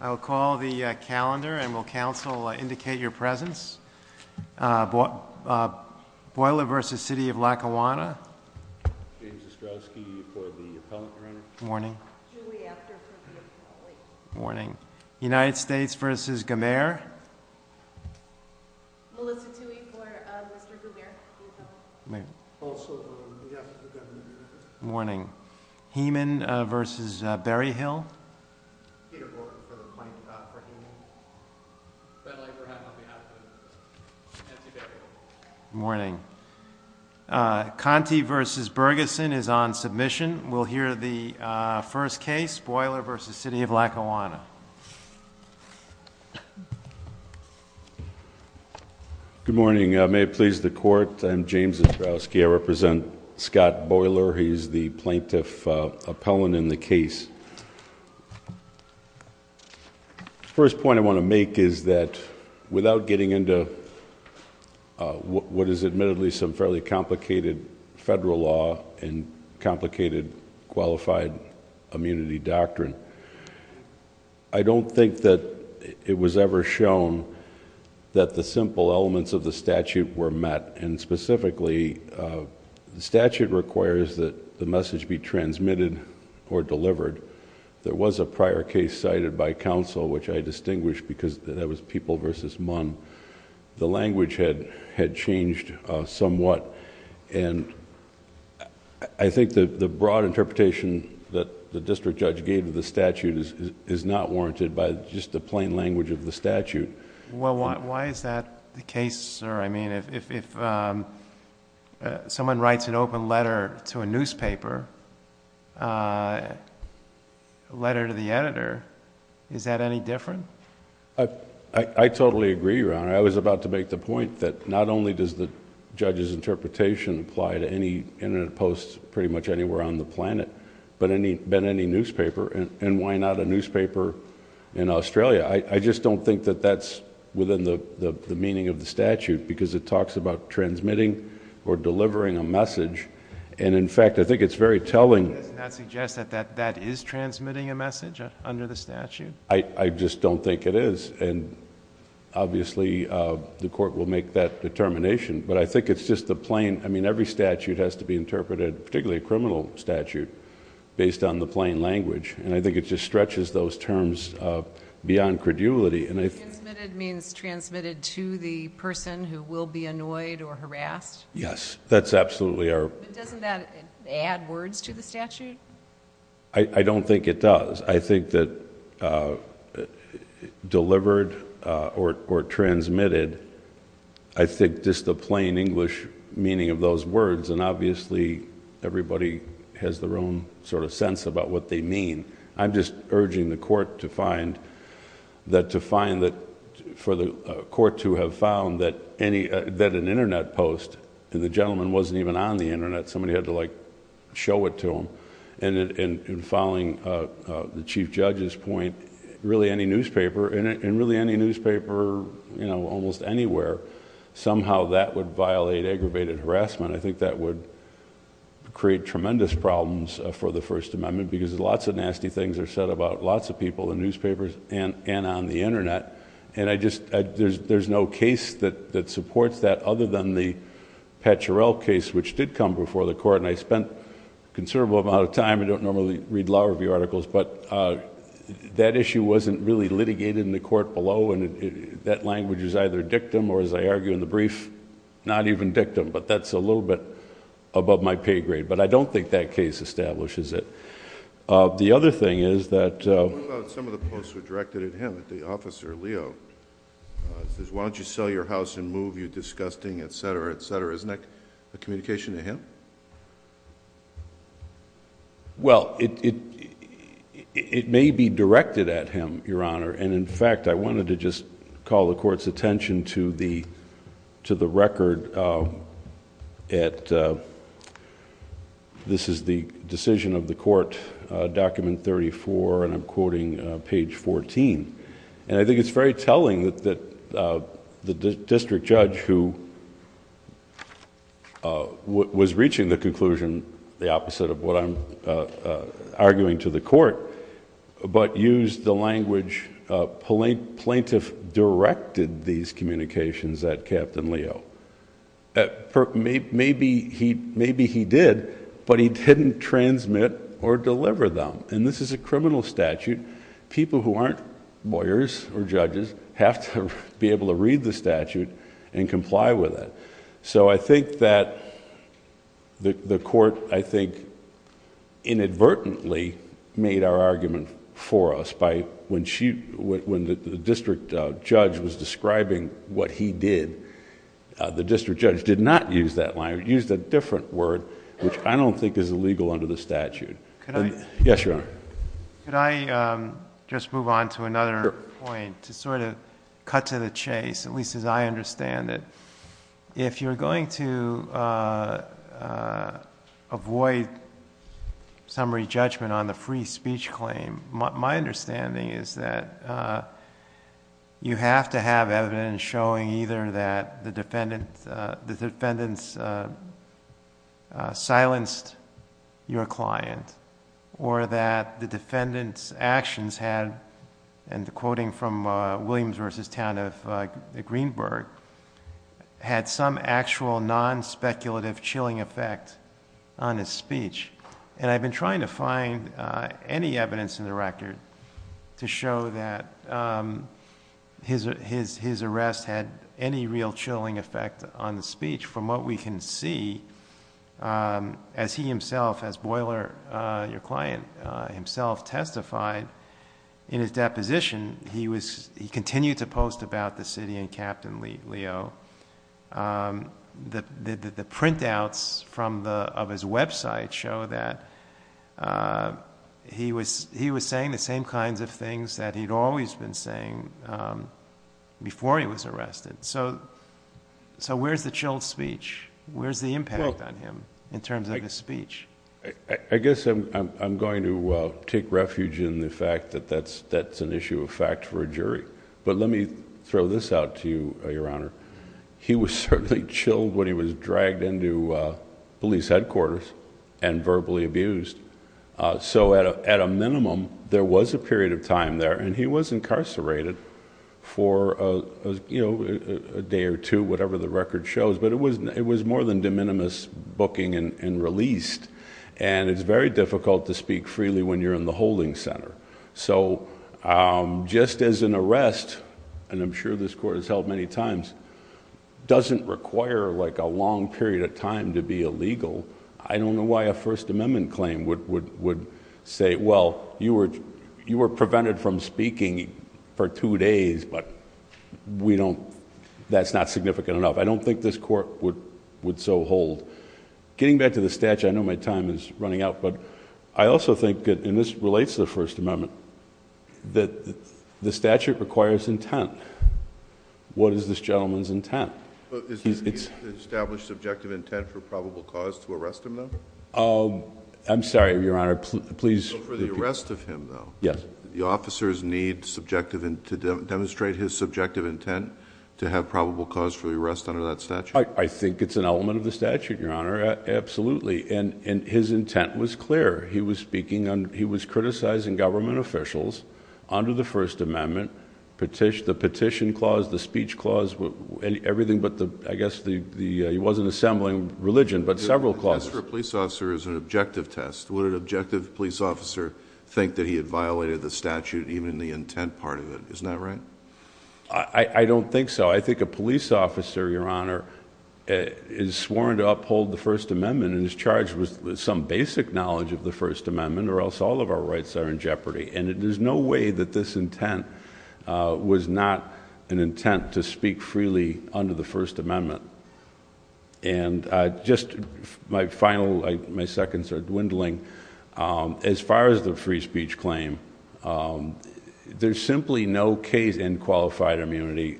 I'll call the calendar and will council indicate your presence. Boyler v. City of Lackawanna. James Ostrowski for the Appellant, Your Honor. Morning. Julie Afterford for the Appellant. Morning. United States v. Gemayor. Melissa Toohey for Mr. Gemayor, the Appellant. Also Julie Afterford, Governor. Morning. Hemann v. Berryhill. Peter Gordon for the Plaintiff, for Hemann. Ben Lieberheim on behalf of Nancy Berryhill. Morning. Conte v. Bergesen is on submission. We'll hear the first case, Boyler v. City of Lackawanna. Good morning. May it please the Court, I'm James Ostrowski. I represent Scott Boyler. He's the Plaintiff Appellant in the case. The first point I want to make is that without getting into what is admittedly some fairly complicated federal law and complicated qualified immunity doctrine, I don't think that it was ever shown that the simple elements of the statute were met. Specifically, the statute requires that the message be transmitted or delivered. There was a prior case cited by counsel which I distinguished because that was People v. Munn. The language had changed somewhat. I think the broad interpretation that the district judge gave to the statute is not warranted by just the plain language of the statute. Why is that the case, sir? If someone writes an open letter to a newspaper, a letter to the editor, is that any different? I totally agree, Your Honor. I was about to make the point that not only does the judge's interpretation apply to any Internet post pretty much anywhere on the planet, but any newspaper, and why not a newspaper in Australia? I just don't think that that's within the meaning of the statute because it talks about transmitting or delivering a message. In fact, I think it's very telling... Does that suggest that that is transmitting a message under the statute? I just don't think it is. Obviously, the court will make that determination, but I think it's just the plain... I mean, every statute has to be interpreted, particularly a criminal statute, based on the plain language. I think it just stretches those terms beyond credulity. Transmitted means transmitted to the person who will be annoyed or harassed? Yes, that's absolutely our... But doesn't that add words to the statute? I don't think it does. I think that delivered or transmitted, I think just the plain English meaning of those words... I'm just urging the court to find that for the court to have found that an Internet post, and the gentleman wasn't even on the Internet, somebody had to show it to him, and following the chief judge's point, really any newspaper, and really any newspaper almost anywhere, somehow that would violate aggravated harassment. I think that would create tremendous problems for the First Amendment because lots of nasty things are said about lots of people in newspapers and on the Internet, and I just... there's no case that supports that, other than the Patcherell case, which did come before the court, and I spent a considerable amount of time, I don't normally read law review articles, but that issue wasn't really litigated in the court below, and that language is either dictum, or as I argue in the brief, not even dictum, but that's a little bit above my pay grade, but I don't think that case establishes it. The other thing is that... What about some of the posts were directed at him, at the officer, Leo? He says, why don't you sell your house and move, you're disgusting, et cetera, et cetera. Isn't that a communication to him? Well, it may be directed at him, Your Honor, and in fact, I wanted to just call the court's attention to the record at... this is the decision of the court, document thirty-four, and I'm quoting page fourteen, and I think it's very telling that the district judge, who was reaching the conclusion the opposite of what I'm arguing to the court, but used the language, plaintiff directed these communications at Captain Leo. Maybe he did, but he didn't transmit or deliver them, and this is a criminal statute. People who aren't lawyers or judges have to be able to read the statute and comply with it. I think that the court, I think, inadvertently made our argument for us. When the district judge was describing what he did, the district judge did not use that language. He used a different word, which I don't think is illegal under the statute. Yes, Your Honor. Could I just move on to another point to sort of cut to the chase, at least as I understand it? If you're going to avoid summary judgment on the free speech claim, my understanding is that you have to have evidence showing either that the defendant silenced your client or that the defendant's actions had, and quoting from Williams v. Town of Greenburg, had some actual non-speculative chilling effect on his speech. I've been trying to find any evidence in the record to show that his arrest had any real chilling effect on the speech. From what we can see, as he himself, as Boiler, your client, himself testified in his deposition, he continued to post about the city and Captain Leo. The printouts of his website show that he was saying the same kinds of things that he'd always been saying before he was arrested. So where's the chilled speech? Where's the impact on him in terms of his speech? I guess I'm going to take refuge in the fact that that's an issue of fact for a jury. But let me throw this out to you, Your Honor. He was certainly chilled when he was dragged into police headquarters and verbally abused. So at a minimum, there was a period of time there. And he was incarcerated for a day or two, whatever the record shows. But it was more than de minimis booking and released. And it's very difficult to speak freely when you're in the holding center. So just as an arrest, and I'm sure this court has held many times, doesn't require a long period of time to be illegal. I don't know why a First Amendment claim would say, well, you were prevented from speaking for two days, but that's not significant enough. I don't think this court would so hold. Getting back to the statute, I know my time is running out. But I also think, and this relates to the First Amendment, that the statute requires intent. What is this gentleman's intent? Has he established subjective intent for probable cause to arrest him, though? I'm sorry, Your Honor, please. For the arrest of him, though. The officers need to demonstrate his subjective intent to have probable cause for the arrest under that statute? I think it's an element of the statute, Your Honor. Absolutely. And his intent was clear. He was criticizing government officials under the First Amendment. The petition clause, the speech clause, everything but the, I guess, he wasn't assembling religion, but several clauses. The test for a police officer is an objective test. Would an objective police officer think that he had violated the statute, even the intent part of it? Isn't that right? I don't think so. I think a police officer, Your Honor, is sworn to uphold the First Amendment and is charged with some basic knowledge of the First Amendment, or else all of our rights are in jeopardy. And there's no way that this intent was not an intent to speak freely under the First Amendment. And just my final, my seconds are dwindling. As far as the free speech claim, there's simply no case in qualified immunity,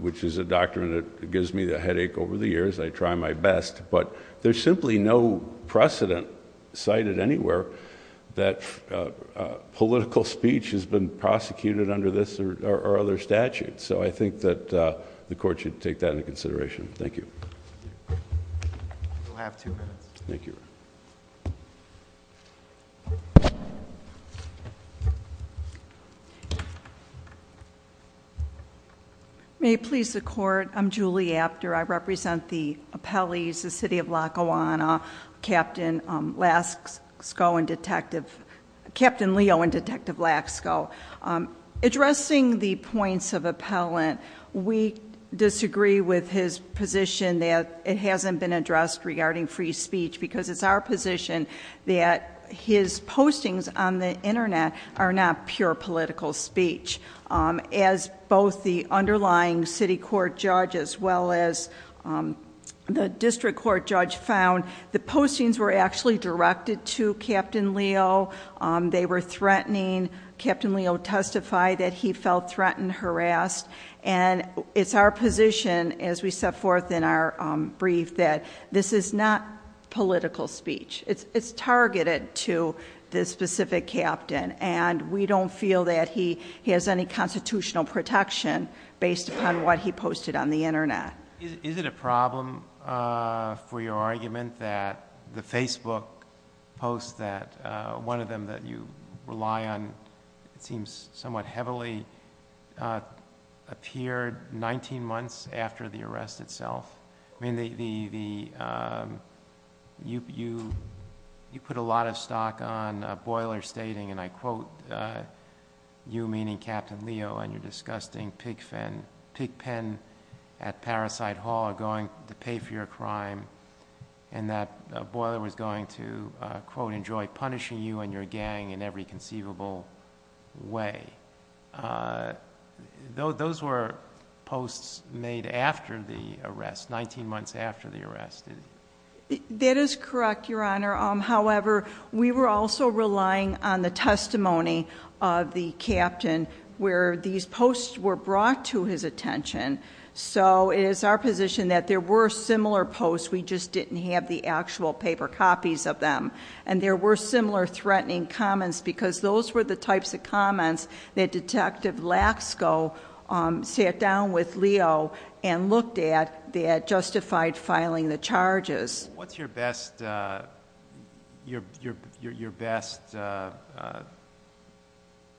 which is a doctrine that gives me the headache over the years. I try my best. But there's simply no precedent cited anywhere that political speech has been prosecuted under this or other statutes. So I think that the court should take that into consideration. Thank you. You have two minutes. Thank you. May it please the court. I'm Julie Apter. I represent the appellees, the city of Lackawanna, Captain Leo and Detective Lasko. Addressing the points of appellant, we disagree with his position that it hasn't been addressed regarding free speech because it's our position that his postings on the Internet are not pure political speech. As both the underlying city court judge as well as the district court judge found, the postings were actually directed to Captain Leo. They were threatening. Captain Leo testified that he felt threatened, harassed. And it's our position as we set forth in our brief that this is not political speech. It's targeted to this specific captain. And we don't feel that he has any constitutional protection based upon what he posted on the Internet. Is it a problem for your argument that the Facebook post that one of them that you rely on, it seems somewhat heavily, appeared 19 months after the arrest itself? I mean, you put a lot of stock on a boiler stating, and I quote you meaning Captain Leo and your disgusting pig pen at Parasite Hall are going to pay for your crime. And that boiler was going to, quote, enjoy punishing you and your gang in every conceivable way. Those were posts made after the arrest, 19 months after the arrest. That is correct, Your Honor. However, we were also relying on the testimony of the captain where these posts were brought to his attention. So it is our position that there were similar posts. We just didn't have the actual paper copies of them. And there were similar threatening comments because those were the types of comments that Detective Lasko sat down with Leo and looked at that justified filing the charges. What's your best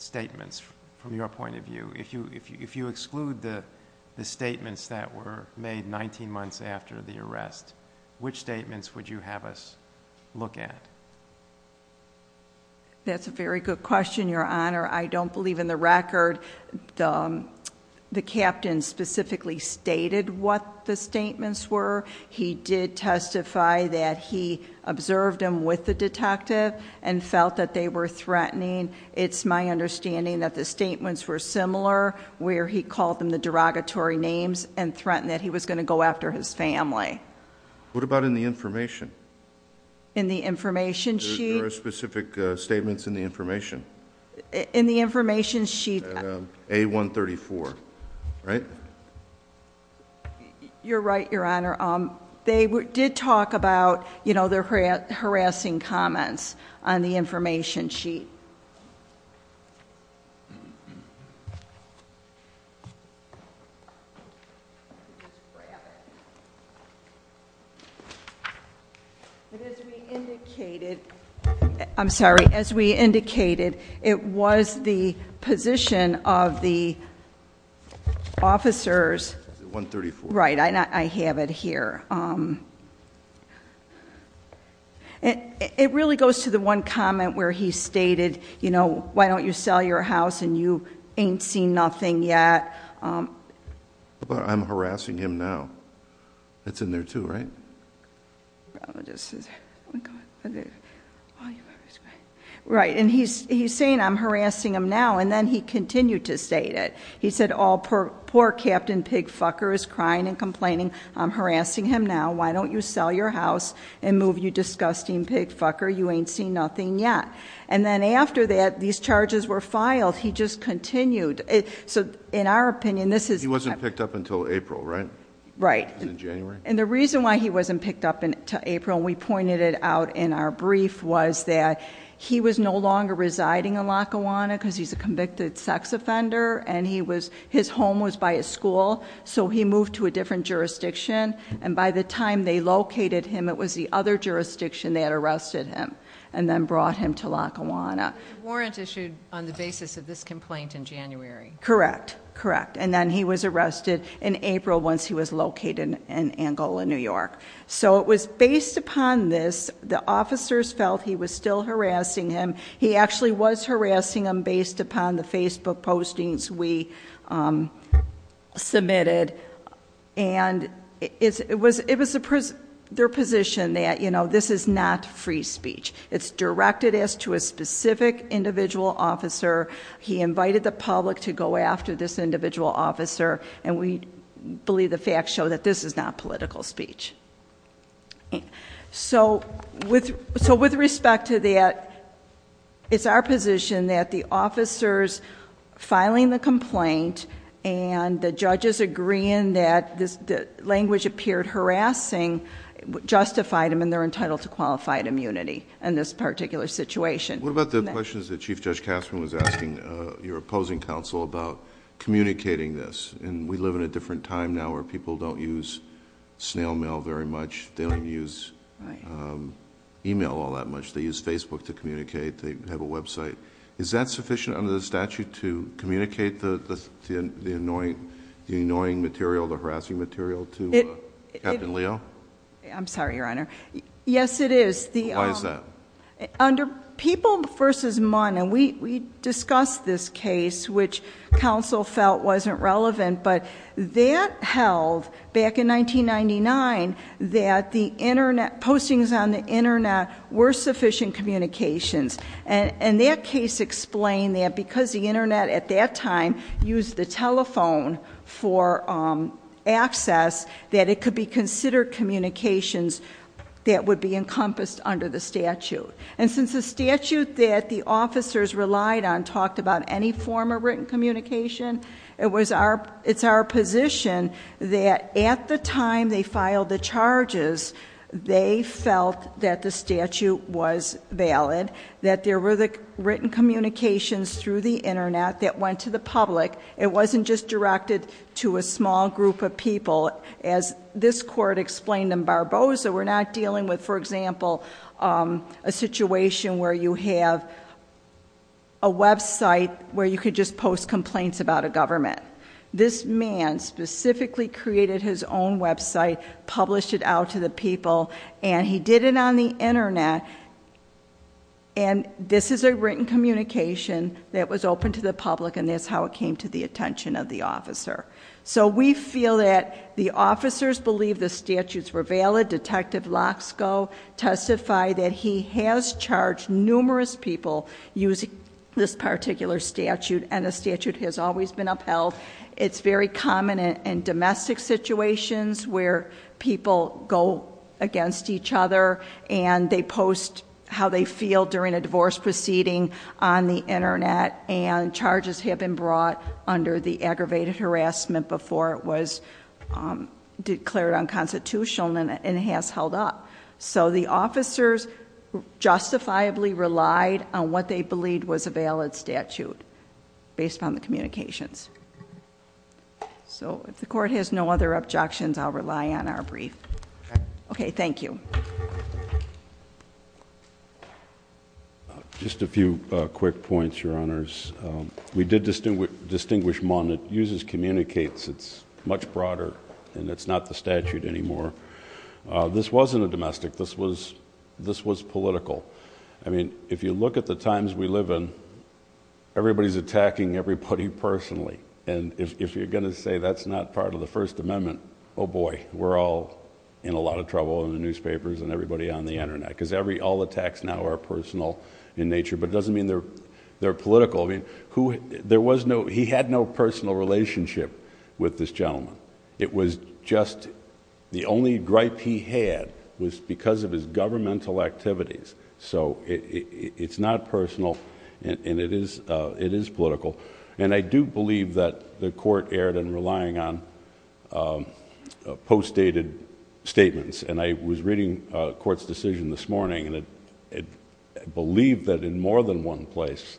statements from your point of view? If you exclude the statements that were made 19 months after the arrest, which statements would you have us look at? That's a very good question, Your Honor. I don't believe in the record. The captain specifically stated what the statements were. He did testify that he observed him with the detective and felt that they were threatening. It's my understanding that the statements were similar where he called them the derogatory names and threatened that he was going to go after his family. What about in the information? In the information sheet? There are specific statements in the information. In the information sheet. A134, right? You're right, Your Honor. They did talk about their harassing comments on the information sheet. I'm sorry. As we indicated, it was the position of the officers. Is it 134? Right, I have it here. It really goes to the one comment where he stated, you know, why don't you sell your house and you ain't seen nothing yet. I'm harassing him now. It's in there too, right? Right, and he's saying I'm harassing him now, and then he continued to state it. He said, oh, poor Captain Pigfucker is crying and complaining. I'm harassing him now. Why don't you sell your house and move, you disgusting pigfucker? You ain't seen nothing yet. And then after that, these charges were filed. He just continued. So in our opinion, this is- He wasn't picked up until April, right? Right. In January? And the reason why he wasn't picked up until April, and we pointed it out in our brief, was that he was no longer residing in Lackawanna because he's a convicted sex offender. And his home was by a school, so he moved to a different jurisdiction. And by the time they located him, it was the other jurisdiction that arrested him and then brought him to Lackawanna. The warrant issued on the basis of this complaint in January. Correct, correct. And then he was arrested in April once he was located in Angola, New York. So it was based upon this. The officers felt he was still harassing him. He actually was harassing him based upon the Facebook postings we submitted. And it was their position that this is not free speech. It's directed as to a specific individual officer. He invited the public to go after this individual officer. And we believe the facts show that this is not political speech. So with respect to that, it's our position that the officers filing the complaint and the judges agreeing that the language appeared harassing, justified him and they're entitled to qualified immunity in this particular situation. What about the questions that Chief Judge Kasman was asking your opposing counsel about communicating this? And we live in a different time now where people don't use snail mail very much. They don't use email all that much. They use Facebook to communicate. They have a website. Is that sufficient under the statute to communicate the annoying material, the harassing material to Captain Leo? I'm sorry, Your Honor. Yes, it is. Why is that? Under People v. Munn, and we discussed this case, which counsel felt wasn't relevant, but that held back in 1999 that the Internet, postings on the Internet were sufficient communications. And that case explained that because the Internet at that time used the telephone for access, that it could be considered communications that would be encompassed under the statute. And since the statute that the officers relied on talked about any form of written communication, it's our position that at the time they filed the charges, they felt that the statute was valid, that there were the written communications through the Internet that went to the public. It wasn't just directed to a small group of people. As this court explained in Barboza, we're not dealing with, for example, a situation where you have a website where you could just post complaints about a government. This man specifically created his own website, published it out to the people, and he did it on the Internet. And this is a written communication that was open to the public, and that's how it came to the attention of the officer. So we feel that the officers believe the statutes were valid. Detective Loxco testified that he has charged numerous people using this particular statute, and the statute has always been upheld. It's very common in domestic situations where people go against each other, and they post how they feel during a divorce proceeding on the Internet. And charges have been brought under the aggravated harassment before it was declared unconstitutional and has held up. So the officers justifiably relied on what they believed was a valid statute based on the communications. So if the court has no other objections, I'll rely on our brief. Okay, thank you. Just a few quick points, your honors. We did distinguish one that uses communicates. It's much broader, and it's not the statute anymore. This wasn't a domestic, this was political. I mean, if you look at the times we live in, everybody's attacking everybody personally. And if you're gonna say that's not part of the First Amendment, boy, we're all in a lot of trouble in the newspapers and everybody on the Internet, because all attacks now are personal in nature, but it doesn't mean they're political. I mean, he had no personal relationship with this gentleman. It was just the only gripe he had was because of his governmental activities. So it's not personal, and it is political. And I do believe that the court erred in relying on post-dated statements. And I was reading a court's decision this morning, and it believed that in more than one place,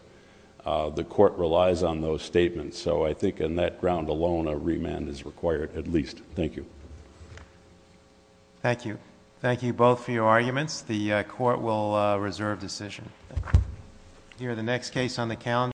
the court relies on those statements. So I think in that ground alone, a remand is required at least. Thank you. Thank you. Thank you both for your arguments. The court will reserve decision. Here, the next case on the calendar.